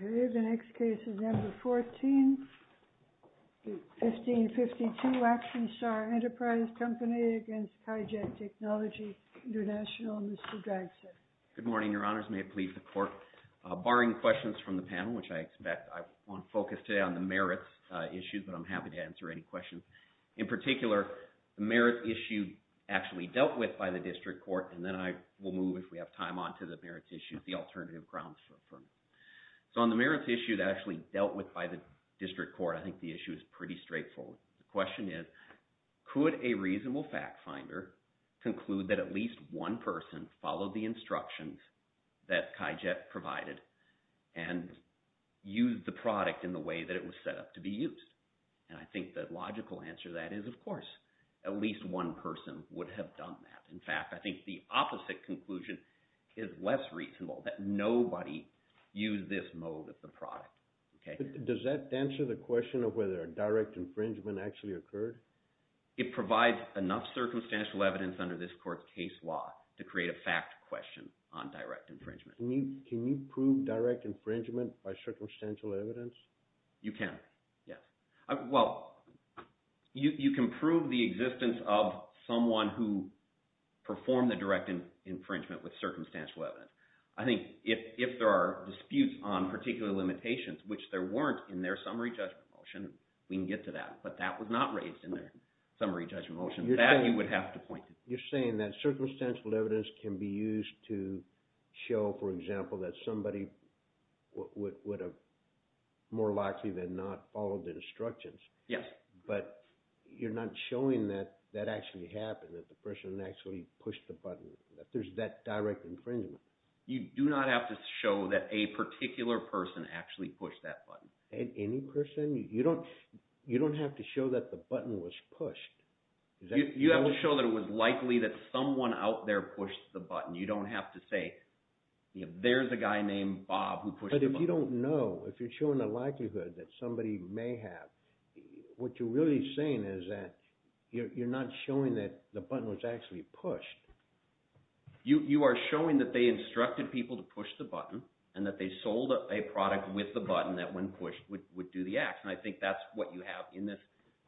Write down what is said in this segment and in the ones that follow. The next case is No. 14, 1552 Action Star Enterprise Co. v. Kaijet Technology Intl., Mr. Dragset. Good morning, Your Honors. May it please the Court, barring questions from the panel, which I expect I won't focus today on the merits issues, but I'm happy to answer any questions. In particular, the merit issue actually dealt with by the District Court, and then I will move, if we have time, on to the merits issues, the alternative grounds for me. So on the merits issue that actually dealt with by the District Court, I think the issue is pretty straightforward. The question is, could a reasonable fact finder conclude that at least one person followed the instructions that Kaijet provided and used the product in the way that it was set up to be used? And I think the logical answer to that is, of course, at least one person would have done that. In fact, I think the opposite conclusion is less reasonable, that nobody used this mode of the product. Does that answer the question of whether a direct infringement actually occurred? It provides enough circumstantial evidence under this Court's case law to create a fact question on direct infringement. Can you prove direct infringement by circumstantial evidence? You can, yes. Well, you can prove the existence of someone who performed the direct infringement with circumstantial evidence. I think if there are disputes on particular limitations, which there weren't in their summary judgment motion, we can get to that. But that was not raised in their summary judgment motion. That you would have to point to. You're saying that circumstantial evidence can be used to show, for example, that somebody would have more likely than not followed the instructions. Yes. But you're not showing that that actually happened, that the person actually pushed the button, that there's that direct infringement. You do not have to show that a particular person actually pushed that button. Any person? You don't have to show that the button was pushed. You have to show that it was likely that someone out there pushed the button. You don't have to say, there's a guy named Bob who pushed the button. But if you don't know, if you're showing a likelihood that somebody may have, what you're really saying is that you're not showing that the button was actually pushed. You are showing that they instructed people to push the button and that they sold a product with the button that when pushed would do the act. And I think that's what you have in this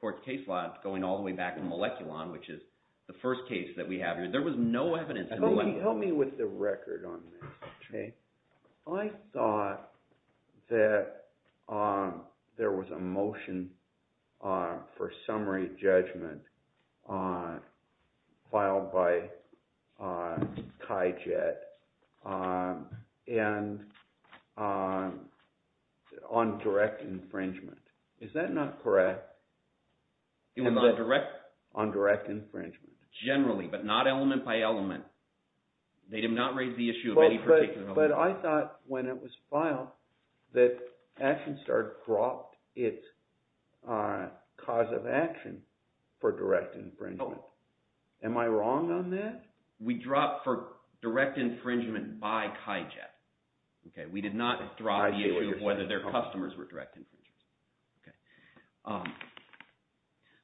court's case law going all the way back to Moleculon, which is the first case that we have here. There was no evidence in Moleculon. Help me with the record on this. I thought that there was a motion for summary judgment filed by Kai Jet on direct infringement. Is that not correct? On direct? On direct infringement. Generally, but not element by element. They did not raise the issue of any particular element. But I thought when it was filed that ActionStar dropped its cause of action for direct infringement. Am I wrong on that? We dropped for direct infringement by Kai Jet. We did not drop the issue of whether their customers were direct infringers.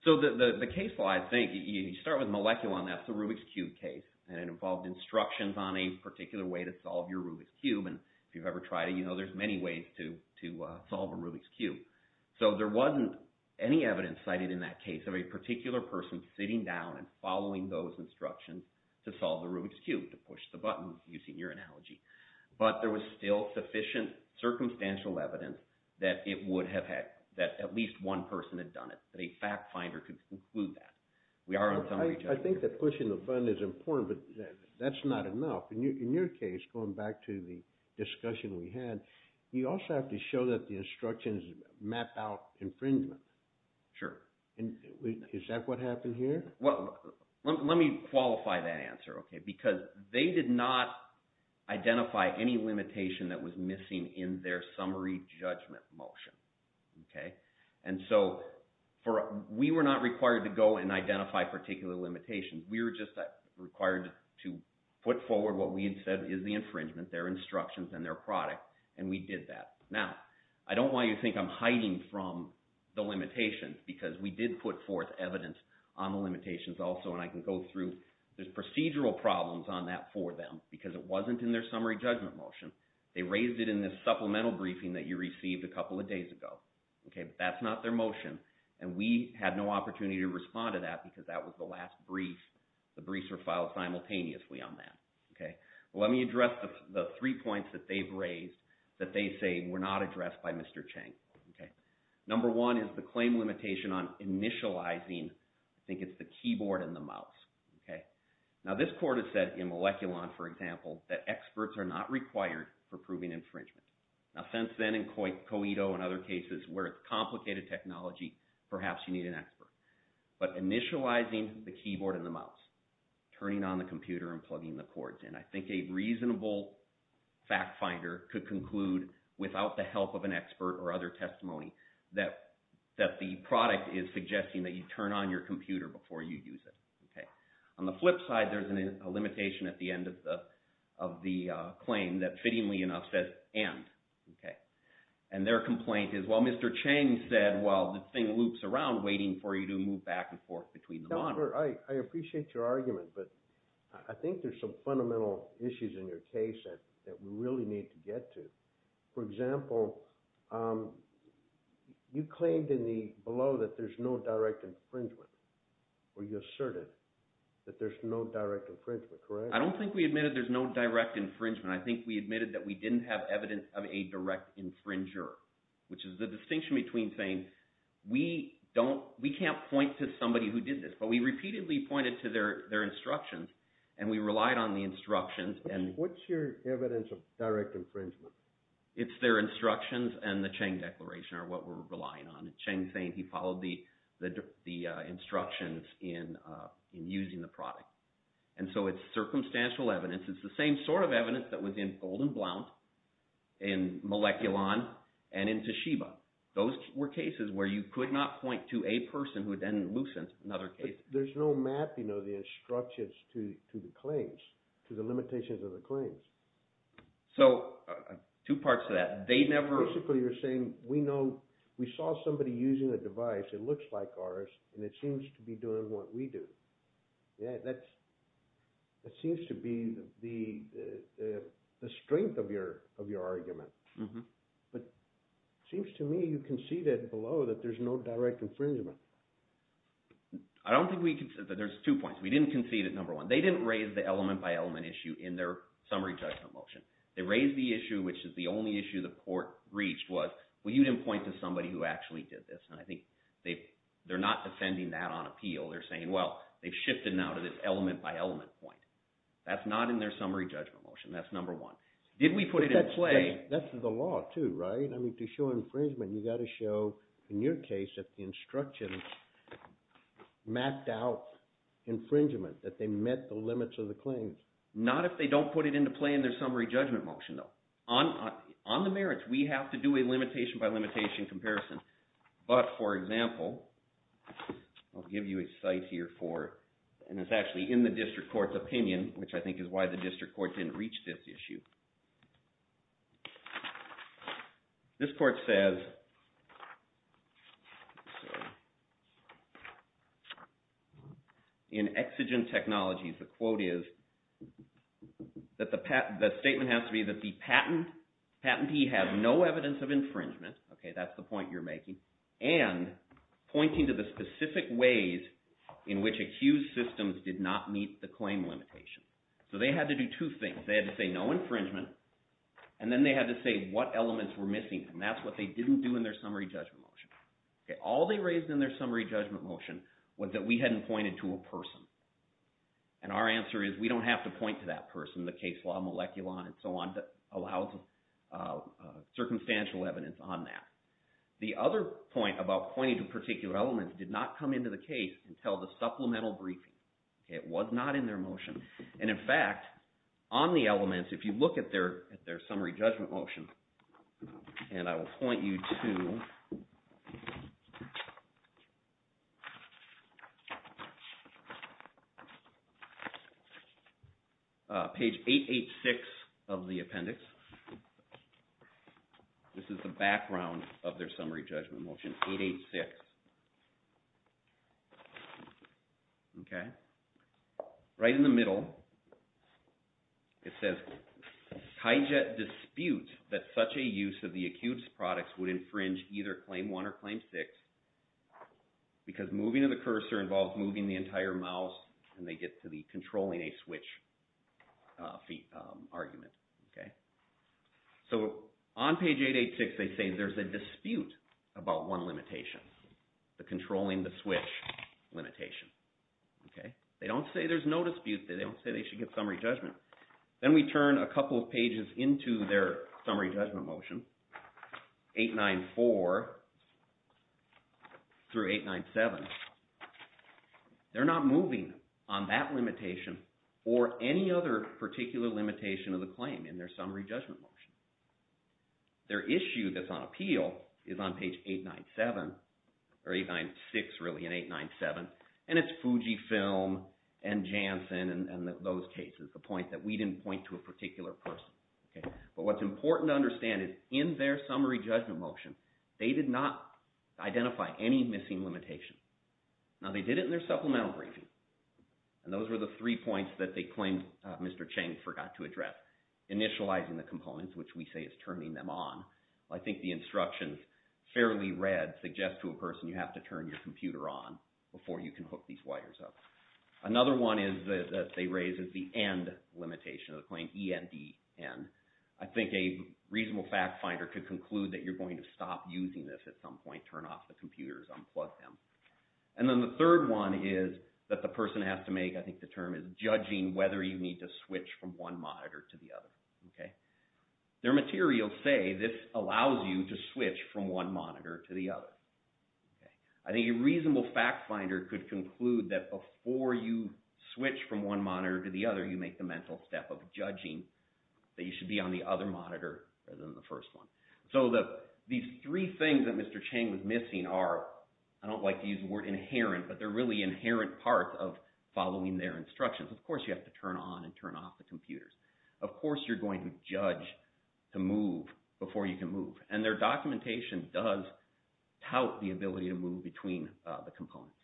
So the case law, I think, you start with Moleculon, that's the Rubik's Cube case, and it involved instructions on a particular way to solve your Rubik's Cube. And if you've ever tried it, you know there's many ways to solve a Rubik's Cube. So there wasn't any evidence cited in that case of a particular person sitting down and following those instructions to solve the Rubik's Cube, to push the button, using your analogy. But there was still sufficient circumstantial evidence that it would have had – that at least one person had done it, that a fact finder could conclude that. I think that pushing the button is important, but that's not enough. In your case, going back to the discussion we had, you also have to show that the instructions map out infringement. Sure. Is that what happened here? Well, let me qualify that answer, because they did not identify any limitation that was missing in their summary judgment motion. And so we were not required to go and identify particular limitations. We were just required to put forward what we had said is the infringement, their instructions, and their product, and we did that. Now, I don't want you to think I'm hiding from the limitations, because we did put forth evidence on the limitations also, and I can go through. There's procedural problems on that for them, because it wasn't in their summary judgment motion. They raised it in the supplemental briefing that you received a couple of days ago. But that's not their motion, and we had no opportunity to respond to that, because that was the last brief. The briefs were filed simultaneously on that. Let me address the three points that they've raised that they say were not addressed by Mr. Chang. Number one is the claim limitation on initializing, I think it's the keyboard and the mouse. Now, this court has said in Moleculon, for example, that experts are not required for proving infringement. Now, since then, in COITO and other cases where it's complicated technology, perhaps you need an expert. But initializing the keyboard and the mouse, turning on the computer and plugging the cords in, I think a reasonable fact finder could conclude, without the help of an expert or other testimony, that the product is suggesting that you turn on your computer before you use it. On the flip side, there's a limitation at the end of the claim that, fittingly enough, says end. And their complaint is, well, Mr. Chang said, well, the thing loops around waiting for you to move back and forth between the models. I appreciate your argument, but I think there's some fundamental issues in your case that we really need to get to. For example, you claimed in the below that there's no direct infringement, or you asserted that there's no direct infringement, correct? I don't think we admitted there's no direct infringement. I think we admitted that we didn't have evidence of a direct infringer, which is the distinction between saying we can't point to somebody who did this. But we repeatedly pointed to their instructions, and we relied on the instructions. What's your evidence of direct infringement? It's their instructions and the Chang declaration are what we're relying on. Chang saying he followed the instructions in using the product. And so it's circumstantial evidence. It's the same sort of evidence that was in Golden Blount, in Moleculon, and in Toshiba. Those were cases where you could not point to a person who then loosened another case. But there's no mapping of the instructions to the claims, to the limitations of the claims. So two parts to that. They never… We saw somebody using a device that looks like ours, and it seems to be doing what we do. That seems to be the strength of your argument. But it seems to me you conceded below that there's no direct infringement. I don't think we conceded. There's two points. We didn't concede at number one. They didn't raise the element-by-element issue in their summary judgment motion. They raised the issue, which is the only issue the court reached was, well, you didn't point to somebody who actually did this. And I think they're not defending that on appeal. They're saying, well, they've shifted now to this element-by-element point. That's not in their summary judgment motion. That's number one. Did we put it in play? That's the law too, right? I mean to show infringement, you've got to show, in your case, that the instructions mapped out infringement, that they met the limits of the claims. Not if they don't put it into play in their summary judgment motion, though. On the merits, we have to do a limitation-by-limitation comparison. But, for example, I'll give you a cite here for, and it's actually in the district court's opinion, which I think is why the district court didn't reach this issue. This court says, in Exigent Technologies, the quote is that the statement has to be that the patentee has no evidence of infringement. That's the point you're making. And pointing to the specific ways in which accused systems did not meet the claim limitation. So they had to do two things. They had to say no infringement, and then they had to say what elements were missing. And that's what they didn't do in their summary judgment motion. All they raised in their summary judgment motion was that we hadn't pointed to a person. And our answer is we don't have to point to that person. The case law, moleculon, and so on, allows circumstantial evidence on that. The other point about pointing to particular elements did not come into the case until the supplemental briefing. It was not in their motion. And, in fact, on the elements, if you look at their summary judgment motion, and I will point you to page 886 of the appendix. This is the background of their summary judgment motion, 886. Okay. Right in the middle, it says, Tyjet disputes that such a use of the accused's products would infringe either Claim 1 or Claim 6 because moving of the cursor involves moving the entire mouse, and they get to the controlling a switch argument. Okay. So, on page 886, they say there's a dispute about one limitation, the controlling the switch limitation. Okay. They don't say there's no dispute. They don't say they should get summary judgment. Then we turn a couple of pages into their summary judgment motion, 894 through 897. They're not moving on that limitation or any other particular limitation of the claim in their summary judgment motion. Their issue that's on appeal is on page 897, or 896, really, and 897, and it's Fujifilm and Janssen and those cases. The point that we didn't point to a particular person. Okay. But what's important to understand is in their summary judgment motion, they did not identify any missing limitation. Now, they did it in their supplemental briefing, and those were the three points that they claimed Mr. Chang forgot to address, initializing the components, which we say is turning them on. I think the instructions, fairly read, suggest to a person you have to turn your computer on before you can hook these wires up. Another one is that they raised is the end limitation of the claim, ENDN. I think a reasonable fact finder could conclude that you're going to stop using this at some point, turn off the computers, unplug them. And then the third one is that the person has to make, I think the term is, judging whether you need to switch from one monitor to the other. Okay. Their materials say this allows you to switch from one monitor to the other. I think a reasonable fact finder could conclude that before you switch from one monitor to the other, you make the mental step of judging that you should be on the other monitor rather than the first one. So these three things that Mr. Chang was missing are, I don't like to use the word inherent, but they're really inherent parts of following their instructions. Of course you have to turn on and turn off the computers. Of course you're going to judge to move before you can move. And their documentation does tout the ability to move between the components.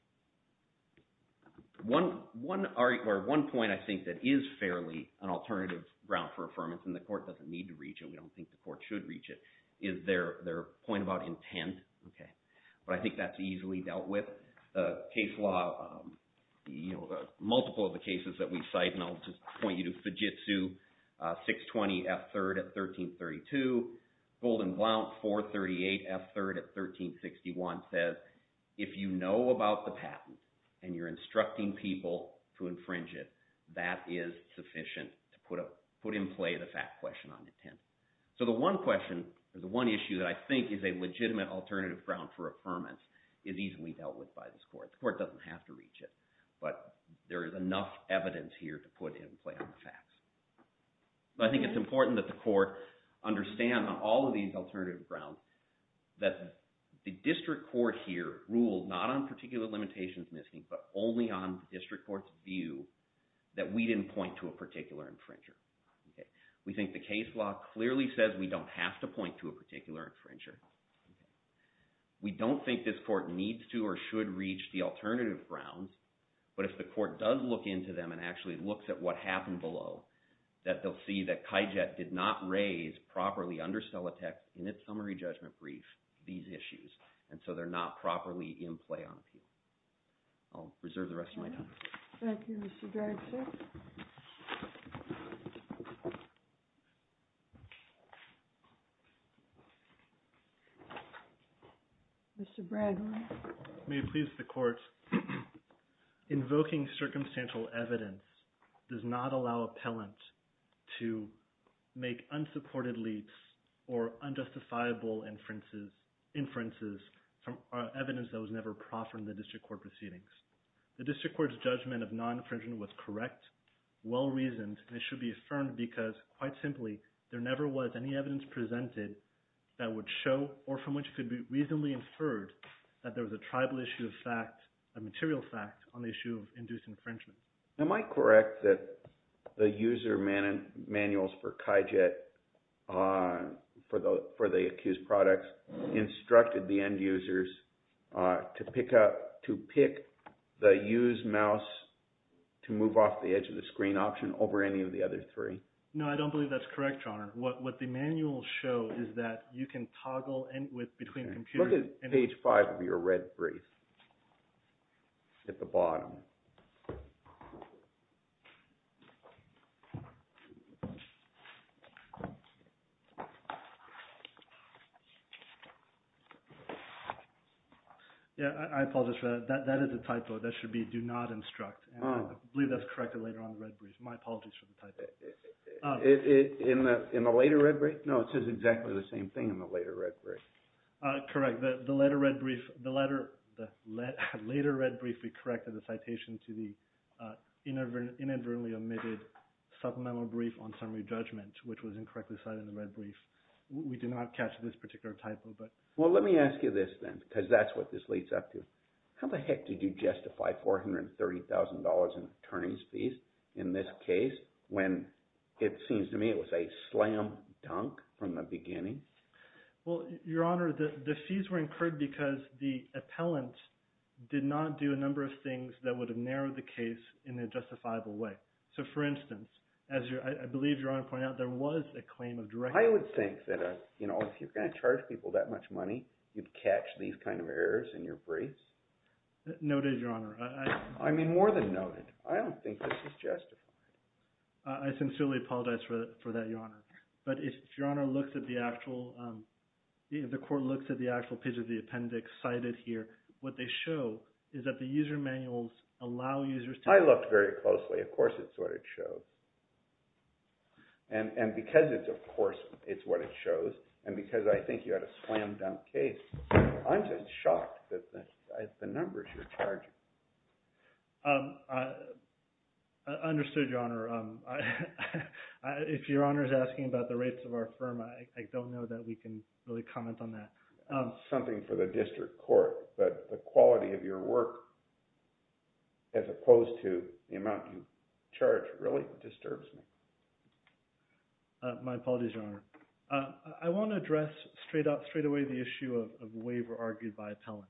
One point I think that is fairly an alternative route for affirmance, and the court doesn't need to reach it, we don't think the court should reach it, is their point about intent. Okay. But I think that's easily dealt with. The case law, multiple of the cases that we cite, and I'll just point you to Fujitsu, 620F3rd at 1332. Golden Blount, 438F3rd at 1361 says, if you know about the patent and you're instructing people to infringe it, that is sufficient to put in play the fact question on intent. So the one question or the one issue that I think is a legitimate alternative ground for affirmance is easily dealt with by this court. The court doesn't have to reach it, but there is enough evidence here to put in play on the facts. But I think it's important that the court understand on all of these alternative grounds that the district court here ruled not on particular limitations missing, but only on the district court's view that we didn't point to a particular infringer. Okay. We think the case law clearly says we don't have to point to a particular infringer. Okay. We don't think this court needs to or should reach the alternative grounds, but if the court does look into them and actually looks at what happened below, that they'll see that KyJet did not raise properly under Stellatech in its summary judgment brief these issues, and so they're not properly in play on appeal. I'll reserve the rest of my time. Thank you, Mr. Dragshack. Mr. Bradway. May it please the court, invoking circumstantial evidence does not allow appellant to make unsupported leaps or unjustifiable inferences from evidence that was never proffered in the district court proceedings. The district court's judgment of non-infringement was correct, well-reasoned, and it should be affirmed because, quite simply, there never was any evidence presented that would show or from which it could be reasonably inferred that there was a tribal issue of fact, a material fact, on the issue of induced infringement. Am I correct that the user manuals for KyJet, for the accused products, instructed the end users to pick the use mouse to move off the edge of the screen option over any of the other three? No, I don't believe that's correct, Your Honor. What the manuals show is that you can toggle between computers. Look at page five of your red brief at the bottom. I apologize for that. That is a typo. That should be do not instruct, and I believe that's corrected later on in the red brief. My apologies for the typo. In the later red brief? No, it says exactly the same thing in the later red brief. Correct. The later red brief, we corrected the citation to the inadvertently omitted supplemental brief on summary judgment, which was incorrectly cited in the red brief. We did not catch this particular typo. Well, let me ask you this then, because that's what this leads up to. How the heck did you justify $430,000 in attorney's fees in this case when it seems to me it was a slam dunk from the beginning? Well, Your Honor, the fees were incurred because the appellant did not do a number of things that would have narrowed the case in a justifiable way. So, for instance, as I believe Your Honor pointed out, there was a claim of direct… I would think that if you're going to charge people that much money, you'd catch these kind of errors in your briefs. Noted, Your Honor. I mean more than noted. I don't think this is justified. I sincerely apologize for that, Your Honor. But if Your Honor looks at the actual – if the court looks at the actual page of the appendix cited here, what they show is that the user manuals allow users to… I looked very closely. Of course, it's what it shows. And because it's, of course, it's what it shows and because I think you had a slam dunk case, I'm just shocked at the numbers you're charging. I understood, Your Honor. If Your Honor is asking about the rates of our firm, I don't know that we can really comment on that. It's something for the district court. But the quality of your work as opposed to the amount you charge really disturbs me. My apologies, Your Honor. I want to address straight away the issue of waiver argued by appellant.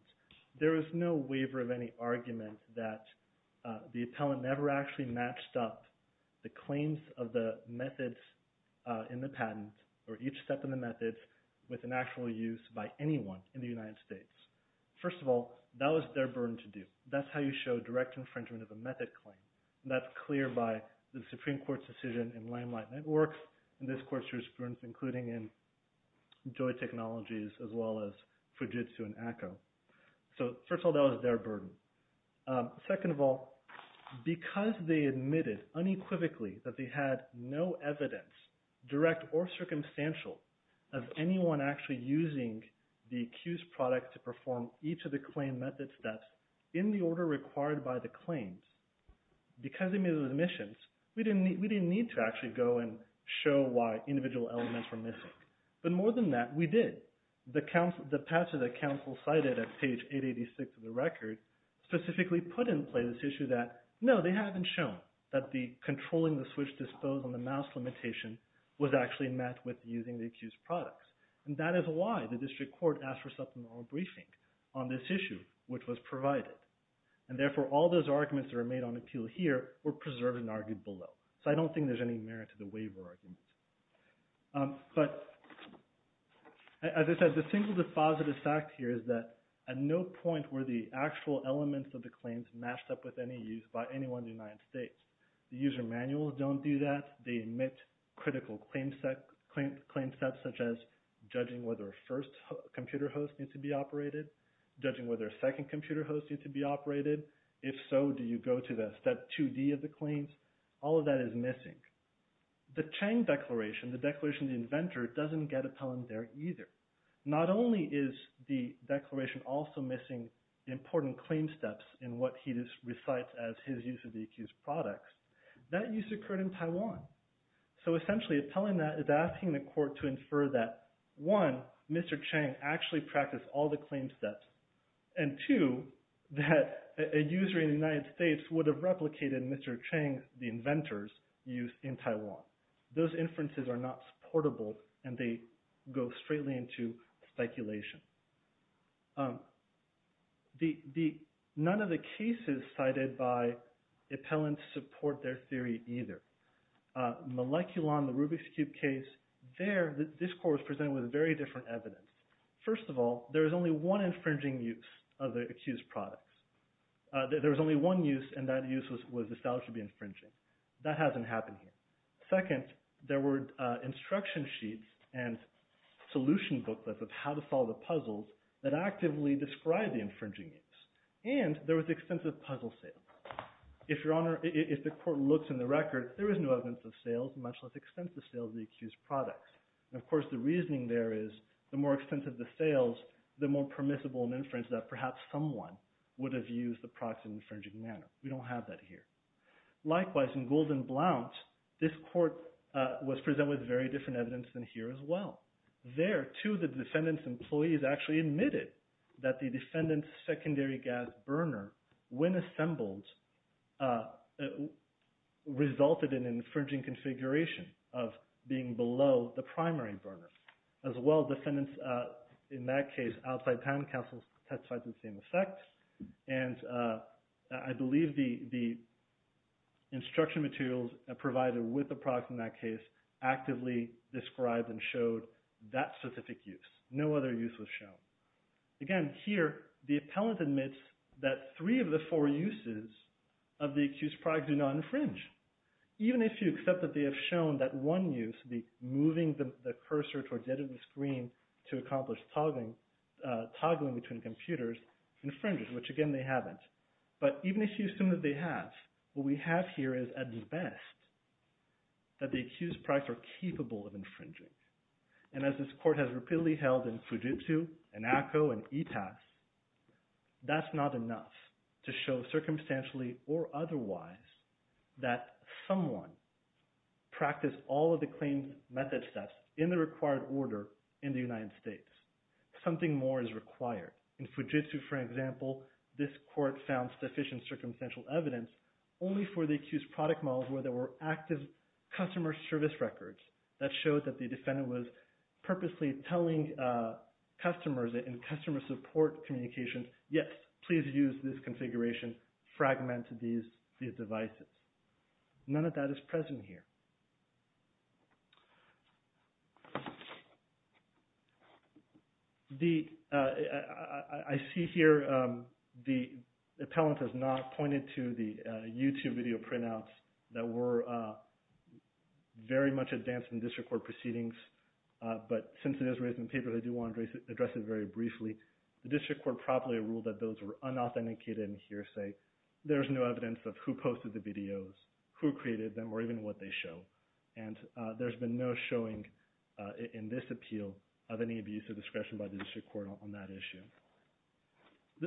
There is no waiver of any argument that the appellant never actually matched up the claims of the methods in the patent or each step in the methods with an actual use by anyone in the United States. First of all, that was their burden to do. That's how you show direct infringement of a method claim. That's clear by the Supreme Court's decision in Landline Networks and this Court's jurisprudence including in Joy Technologies as well as Fujitsu and ACO. So first of all, that was their burden. Second of all, because they admitted unequivocally that they had no evidence, direct or circumstantial, of anyone actually using the accused product to perform each of the claim method steps in the order required by the claims, because they made those admissions, we didn't need to actually go and show why individual elements were missing. But more than that, we did. The patches that counsel cited at page 886 of the record specifically put in place this issue that, no, they haven't shown that the controlling the switch dispose on the mouse limitation was actually met with using the accused products. And that is why the district court asked for a supplemental briefing on this issue, which was provided. And therefore, all those arguments that were made on appeal here were preserved and argued below. So I don't think there's any merit to the waiver arguments. But as I said, the single deposit is fact here is that at no point were the actual elements of the claims matched up with any use by anyone in the United States. The user manuals don't do that. They admit critical claim steps such as judging whether a first computer host needs to be operated, judging whether a second computer host needs to be operated. If so, do you go to the step 2D of the claims? All of that is missing. The Chang Declaration, the Declaration of the Inventor, doesn't get appellant there either. Not only is the declaration also missing important claim steps in what he just recites as his use of the accused products, that use occurred in Taiwan. So essentially, appellant is asking the court to infer that, one, Mr. Chang actually practiced all the claim steps, and two, that a user in the United States would have replicated Mr. Chang, the inventor's use in Taiwan. Those inferences are not supportable, and they go straightly into speculation. None of the cases cited by appellants support their theory either. Moleculon, the Rubik's Cube case, there this court was presented with very different evidence. First of all, there was only one infringing use of the accused products. There was only one use, and that use was established to be infringing. That hasn't happened here. Second, there were instruction sheets and solution booklets of how to solve the puzzles that actively describe the infringing use, and there was extensive puzzle sales. If the court looks in the record, there is no evidence of sales, much less extensive sales of the accused products. Of course, the reasoning there is the more extensive the sales, the more permissible an inference that perhaps someone would have used the products in an infringing manner. We don't have that here. Likewise, in Golden Blount, this court was presented with very different evidence than here as well. There, too, the defendant's employees actually admitted that the defendant's secondary gas burner, when assembled, resulted in an infringing configuration of being below the primary burner. As well, defendants, in that case, outside patent counsel testified to the same effect, and I believe the instruction materials provided with the product in that case actively described and showed that specific use. No other use was shown. Again, here, the appellant admits that three of the four uses of the accused products do not infringe. Even if you accept that they have shown that one use, the moving the cursor towards the end of the screen to accomplish toggling between computers, infringes, which, again, they haven't. But even if you assume that they have, what we have here is, at best, that the accused products are capable of infringing. And as this court has repeatedly held in Fujitsu and ACCO and ETAS, that's not enough to show, circumstantially or otherwise, that someone practiced all of the claims method steps in the required order in the United States. Something more is required. In Fujitsu, for example, this court found sufficient circumstantial evidence only for the accused product models where there were active customer service records. That showed that the defendant was purposely telling customers in customer support communications, yes, please use this configuration. Fragment these devices. None of that is present here. I see here the appellant has not pointed to the YouTube video printouts that were very much advanced in district court proceedings. But since it is raised in the paper, I do want to address it very briefly. The district court properly ruled that those were unauthenticated and hearsay. There is no evidence of who posted the videos, who created them, or even what they show. And there's been no showing in this appeal of any abuse of discretion by the district court on that issue.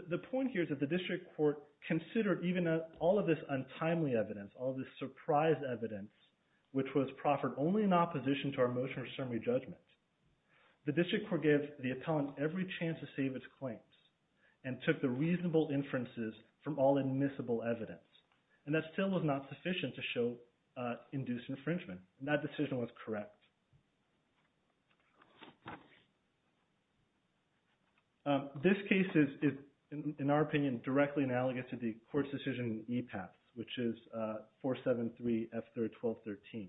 The point here is that the district court considered even all of this untimely evidence, all of this surprise evidence, which was proffered only in opposition to our motion or summary judgment. The district court gave the appellant every chance to save its claims and took the reasonable inferences from all admissible evidence. And that still was not sufficient to show induced infringement. And that decision was correct. This case is, in our opinion, directly analogous to the court's decision in EPAS, which is 473F3-1213,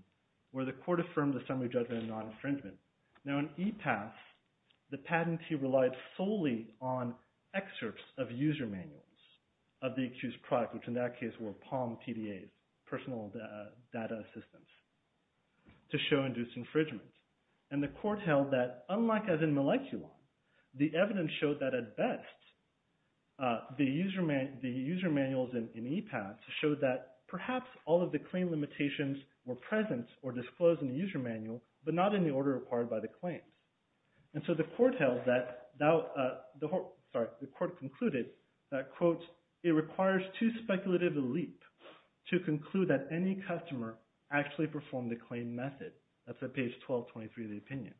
where the court affirmed the summary judgment of non-infringement. Now in EPAS, the patentee relied solely on excerpts of user manuals of the accused product, which in that case were POM PDAs, personal data assistance, to show induced infringement. And the court held that, unlike as in Moleculon, the evidence showed that at best the user manuals in EPAS showed that perhaps all of the claim limitations were present or disclosed in the user manual, but not in the order required by the claims. And so the court held that – sorry, the court concluded that, quote, it requires too speculative a leap to conclude that any customer actually performed the claimed method. That's at page 1223 of the opinion.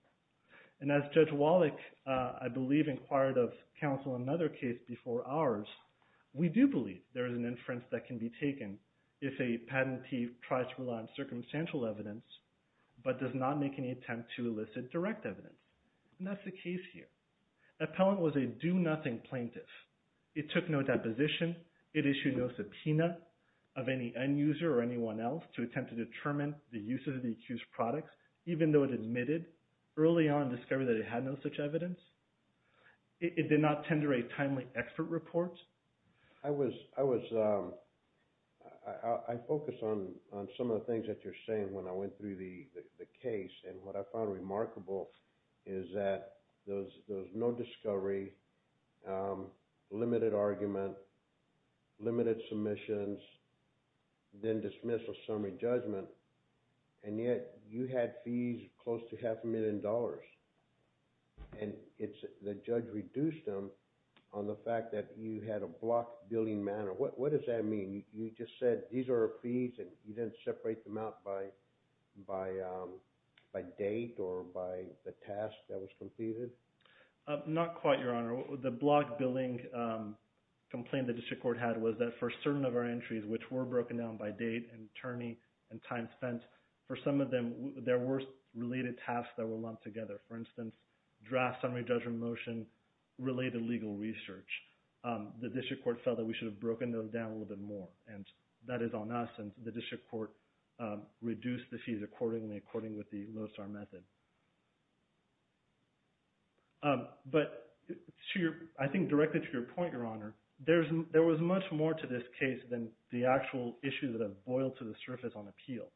And as Judge Wallach, I believe, inquired of counsel in another case before ours, we do believe there is an inference that can be taken if a patentee tries to rely on circumstantial evidence but does not make any attempt to elicit direct evidence. And that's the case here. Appellant was a do-nothing plaintiff. It took no deposition. It issued no subpoena of any end user or anyone else to attempt to determine the use of the accused products, even though it admitted early on discovery that it had no such evidence. It did not tender a timely expert report. I was – I focused on some of the things that you're saying when I went through the case, and what I found remarkable is that there was no discovery, limited argument, limited submissions, then dismissal summary judgment, and yet you had fees close to half a million dollars. And the judge reduced them on the fact that you had a block billing matter. What does that mean? You just said these are our fees, and you didn't separate them out by date or by the task that was completed? Not quite, Your Honor. The block billing complaint the district court had was that for certain of our entries, which were broken down by date and attorney and time spent, for some of them there were related tasks that were lumped together. For instance, draft summary judgment motion related legal research. The district court felt that we should have broken those down a little bit more, and that is on us. And the district court reduced the fees accordingly, according with the LOSAR method. But to your – I think directly to your point, Your Honor, there was much more to this case than the actual issues that have boiled to the surface on appeal.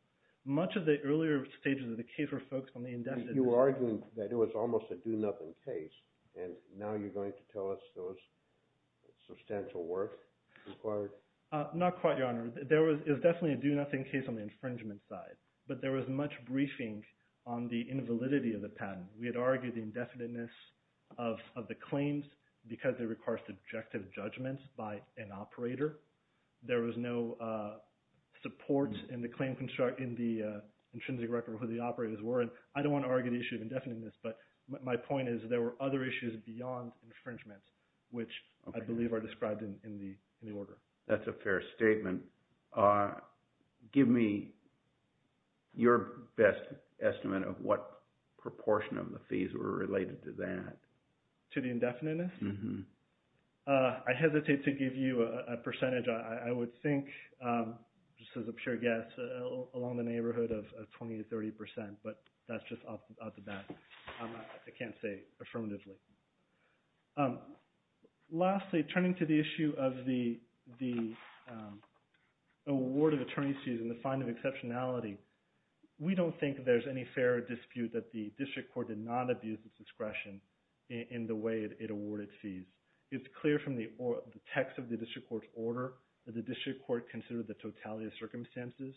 Much of the earlier stages of the case were focused on the indefinite – You were arguing that it was almost a do-nothing case, and now you're going to tell us those substantial work required? Not quite, Your Honor. It was definitely a do-nothing case on the infringement side, but there was much briefing on the invalidity of the patent. We had argued the indefiniteness of the claims because it requires subjective judgment by an operator. There was no support in the claim construct – in the intrinsic record of who the operators were. And I don't want to argue the issue of indefiniteness, but my point is there were other issues beyond infringement, which I believe are described in the order. That's a fair statement. Give me your best estimate of what proportion of the fees were related to that. To the indefiniteness? I hesitate to give you a percentage. I would think, just as a pure guess, along the neighborhood of 20 to 30 percent, but that's just off the bat. I can't say affirmatively. Lastly, turning to the issue of the award of attorney's fees and the fine of exceptionality, we don't think there's any fairer dispute that the district court did not abuse its discretion in the way it awarded fees. It's clear from the text of the district court's order that the district court considered the totality of circumstances.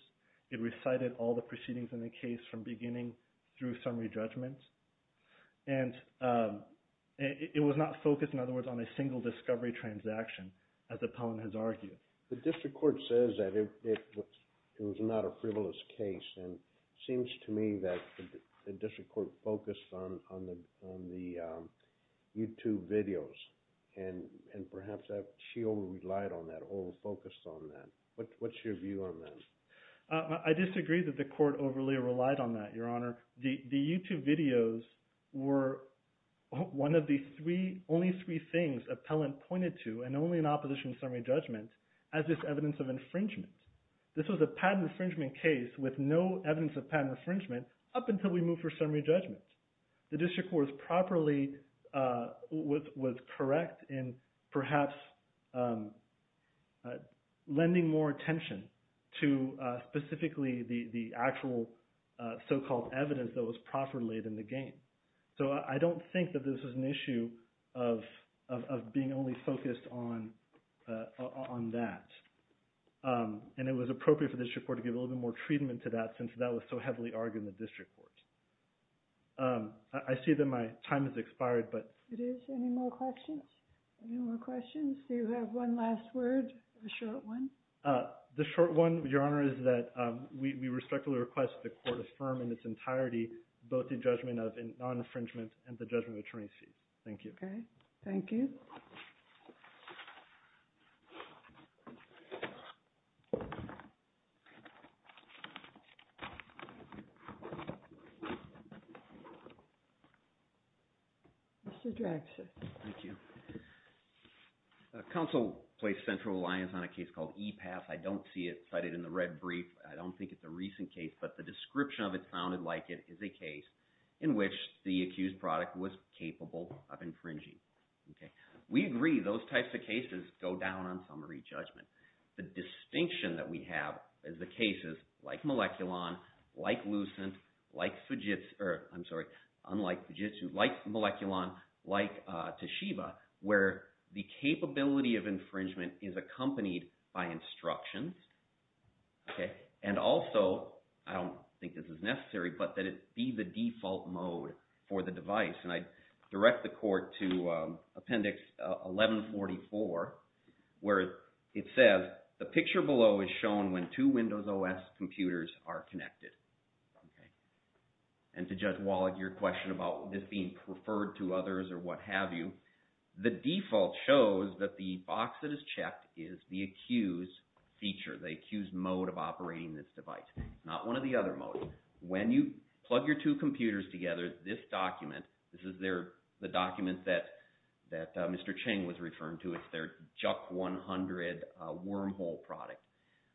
It recited all the proceedings in the case from beginning through summary judgment. And it was not focused, in other words, on a single discovery transaction, as the appellant has argued. The district court says that it was not a frivolous case, and it seems to me that the district court focused on the YouTube videos, and perhaps she over-relied on that or over-focused on that. What's your view on that? I disagree that the court overly relied on that, Your Honor. The YouTube videos were one of the only three things appellant pointed to, and only in opposition to summary judgment, as this evidence of infringement. This was a patent infringement case with no evidence of patent infringement up until we moved for summary judgment. The district court properly – was correct in perhaps lending more attention to specifically the actual so-called evidence that was properly laid in the game. So I don't think that this is an issue of being only focused on that, and it was appropriate for the district court to give a little bit more treatment to that since that was so heavily argued in the district court. I see that my time has expired, but – It is. Any more questions? Any more questions? Do you have one last word, a short one? The short one, Your Honor, is that we respectfully request that the court affirm in its entirety both the judgment of non-infringement and the judgment of attorneys' fees. Thank you. Okay. Thank you. Mr. Draxler. Thank you. Counsel placed central reliance on a case called EPAS. I don't see it cited in the red brief. I don't think it's a recent case, but the description of it sounded like it is a case in which the accused product was capable of infringing. We agree those types of cases go down on summary judgment. The distinction that we have is the cases like Moleculon, like Lucent, like Fujitsu – I'm sorry, unlike Fujitsu, like Moleculon, like Toshiba, where the capability of infringement is accompanied by instructions. Okay. And also, I don't think this is necessary, but that it be the default mode for the device. And I direct the court to Appendix 1144, where it says, the picture below is shown when two Windows OS computers are connected. Okay. And to Judge Wallach, your question about this being referred to others or what have you, the default shows that the box that is checked is the accused feature, the accused mode of operating this device, not one of the other modes. Okay. When you plug your two computers together, this document – this is the document that Mr. Chang was referring to. It's their JUC100 wormhole product.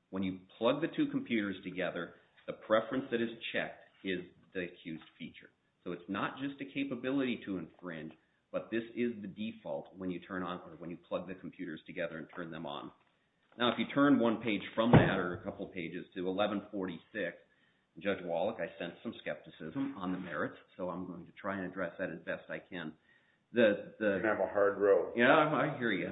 When you plug the two computers together, the preference that is checked is the accused feature. So it's not just a capability to infringe, but this is the default when you turn on – or when you plug the computers together and turn them on. Now, if you turn one page from that or a couple pages to 1146, Judge Wallach, I sense some skepticism on the merits, so I'm going to try and address that as best I can. You're going to have a hard road. Yeah, I hear you.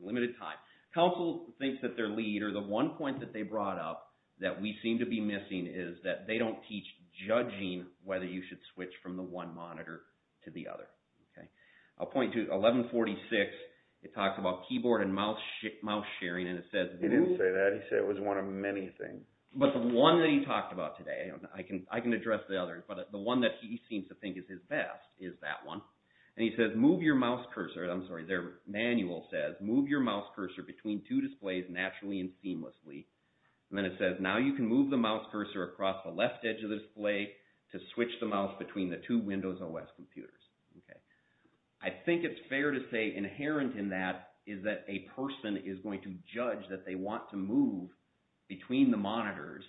Limited time. Counsel thinks that their lead or the one point that they brought up that we seem to be missing is that they don't teach judging whether you should switch from the one monitor to the other. Okay. I'll point to 1146. It talks about keyboard and mouse sharing, and it says – And he says, move your mouse cursor – I'm sorry, their manual says, move your mouse cursor between two displays naturally and seamlessly. And then it says, now you can move the mouse cursor across the left edge of the display to switch the mouse between the two Windows OS computers. Okay. I think it's fair to say inherent in that is that a person is going to judge that they want to move between the monitors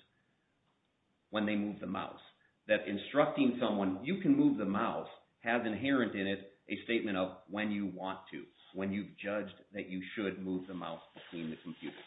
when they move the mouse. That instructing someone, you can move the mouse, has inherent in it a statement of when you want to, when you've judged that you should move the mouse between the computers.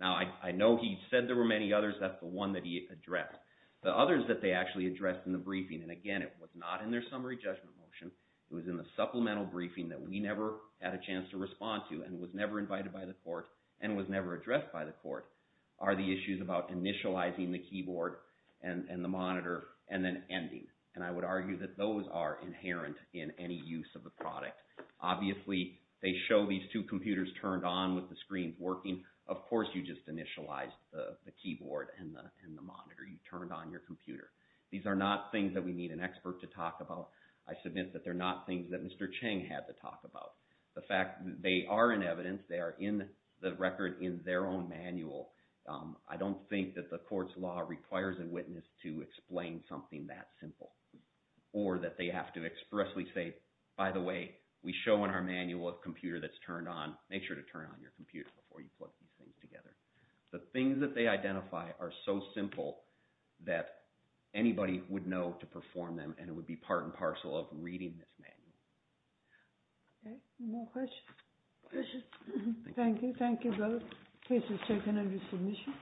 Now, I know he said there were many others. That's the one that he addressed. The others that they actually addressed in the briefing – and again, it was not in their summary judgment motion. It was in the supplemental briefing that we never had a chance to respond to and was never invited by the court and was never addressed by the court – are the issues about initializing the keyboard and the monitor and then ending. And I would argue that those are inherent in any use of the product. Obviously, they show these two computers turned on with the screens working. Of course, you just initialized the keyboard and the monitor. You turned on your computer. These are not things that we need an expert to talk about. I submit that they're not things that Mr. Chang had to talk about. The fact that they are in evidence, they are in the record in their own manual, I don't think that the court's law requires a witness to explain something that simple or that they have to expressly say, by the way, we show in our manual a computer that's turned on. Make sure to turn on your computer before you put these things together. The things that they identify are so simple that anybody would know to perform them, and it would be part and parcel of reading this manual. Any more questions? Thank you. Thank you both. Case is taken under submission.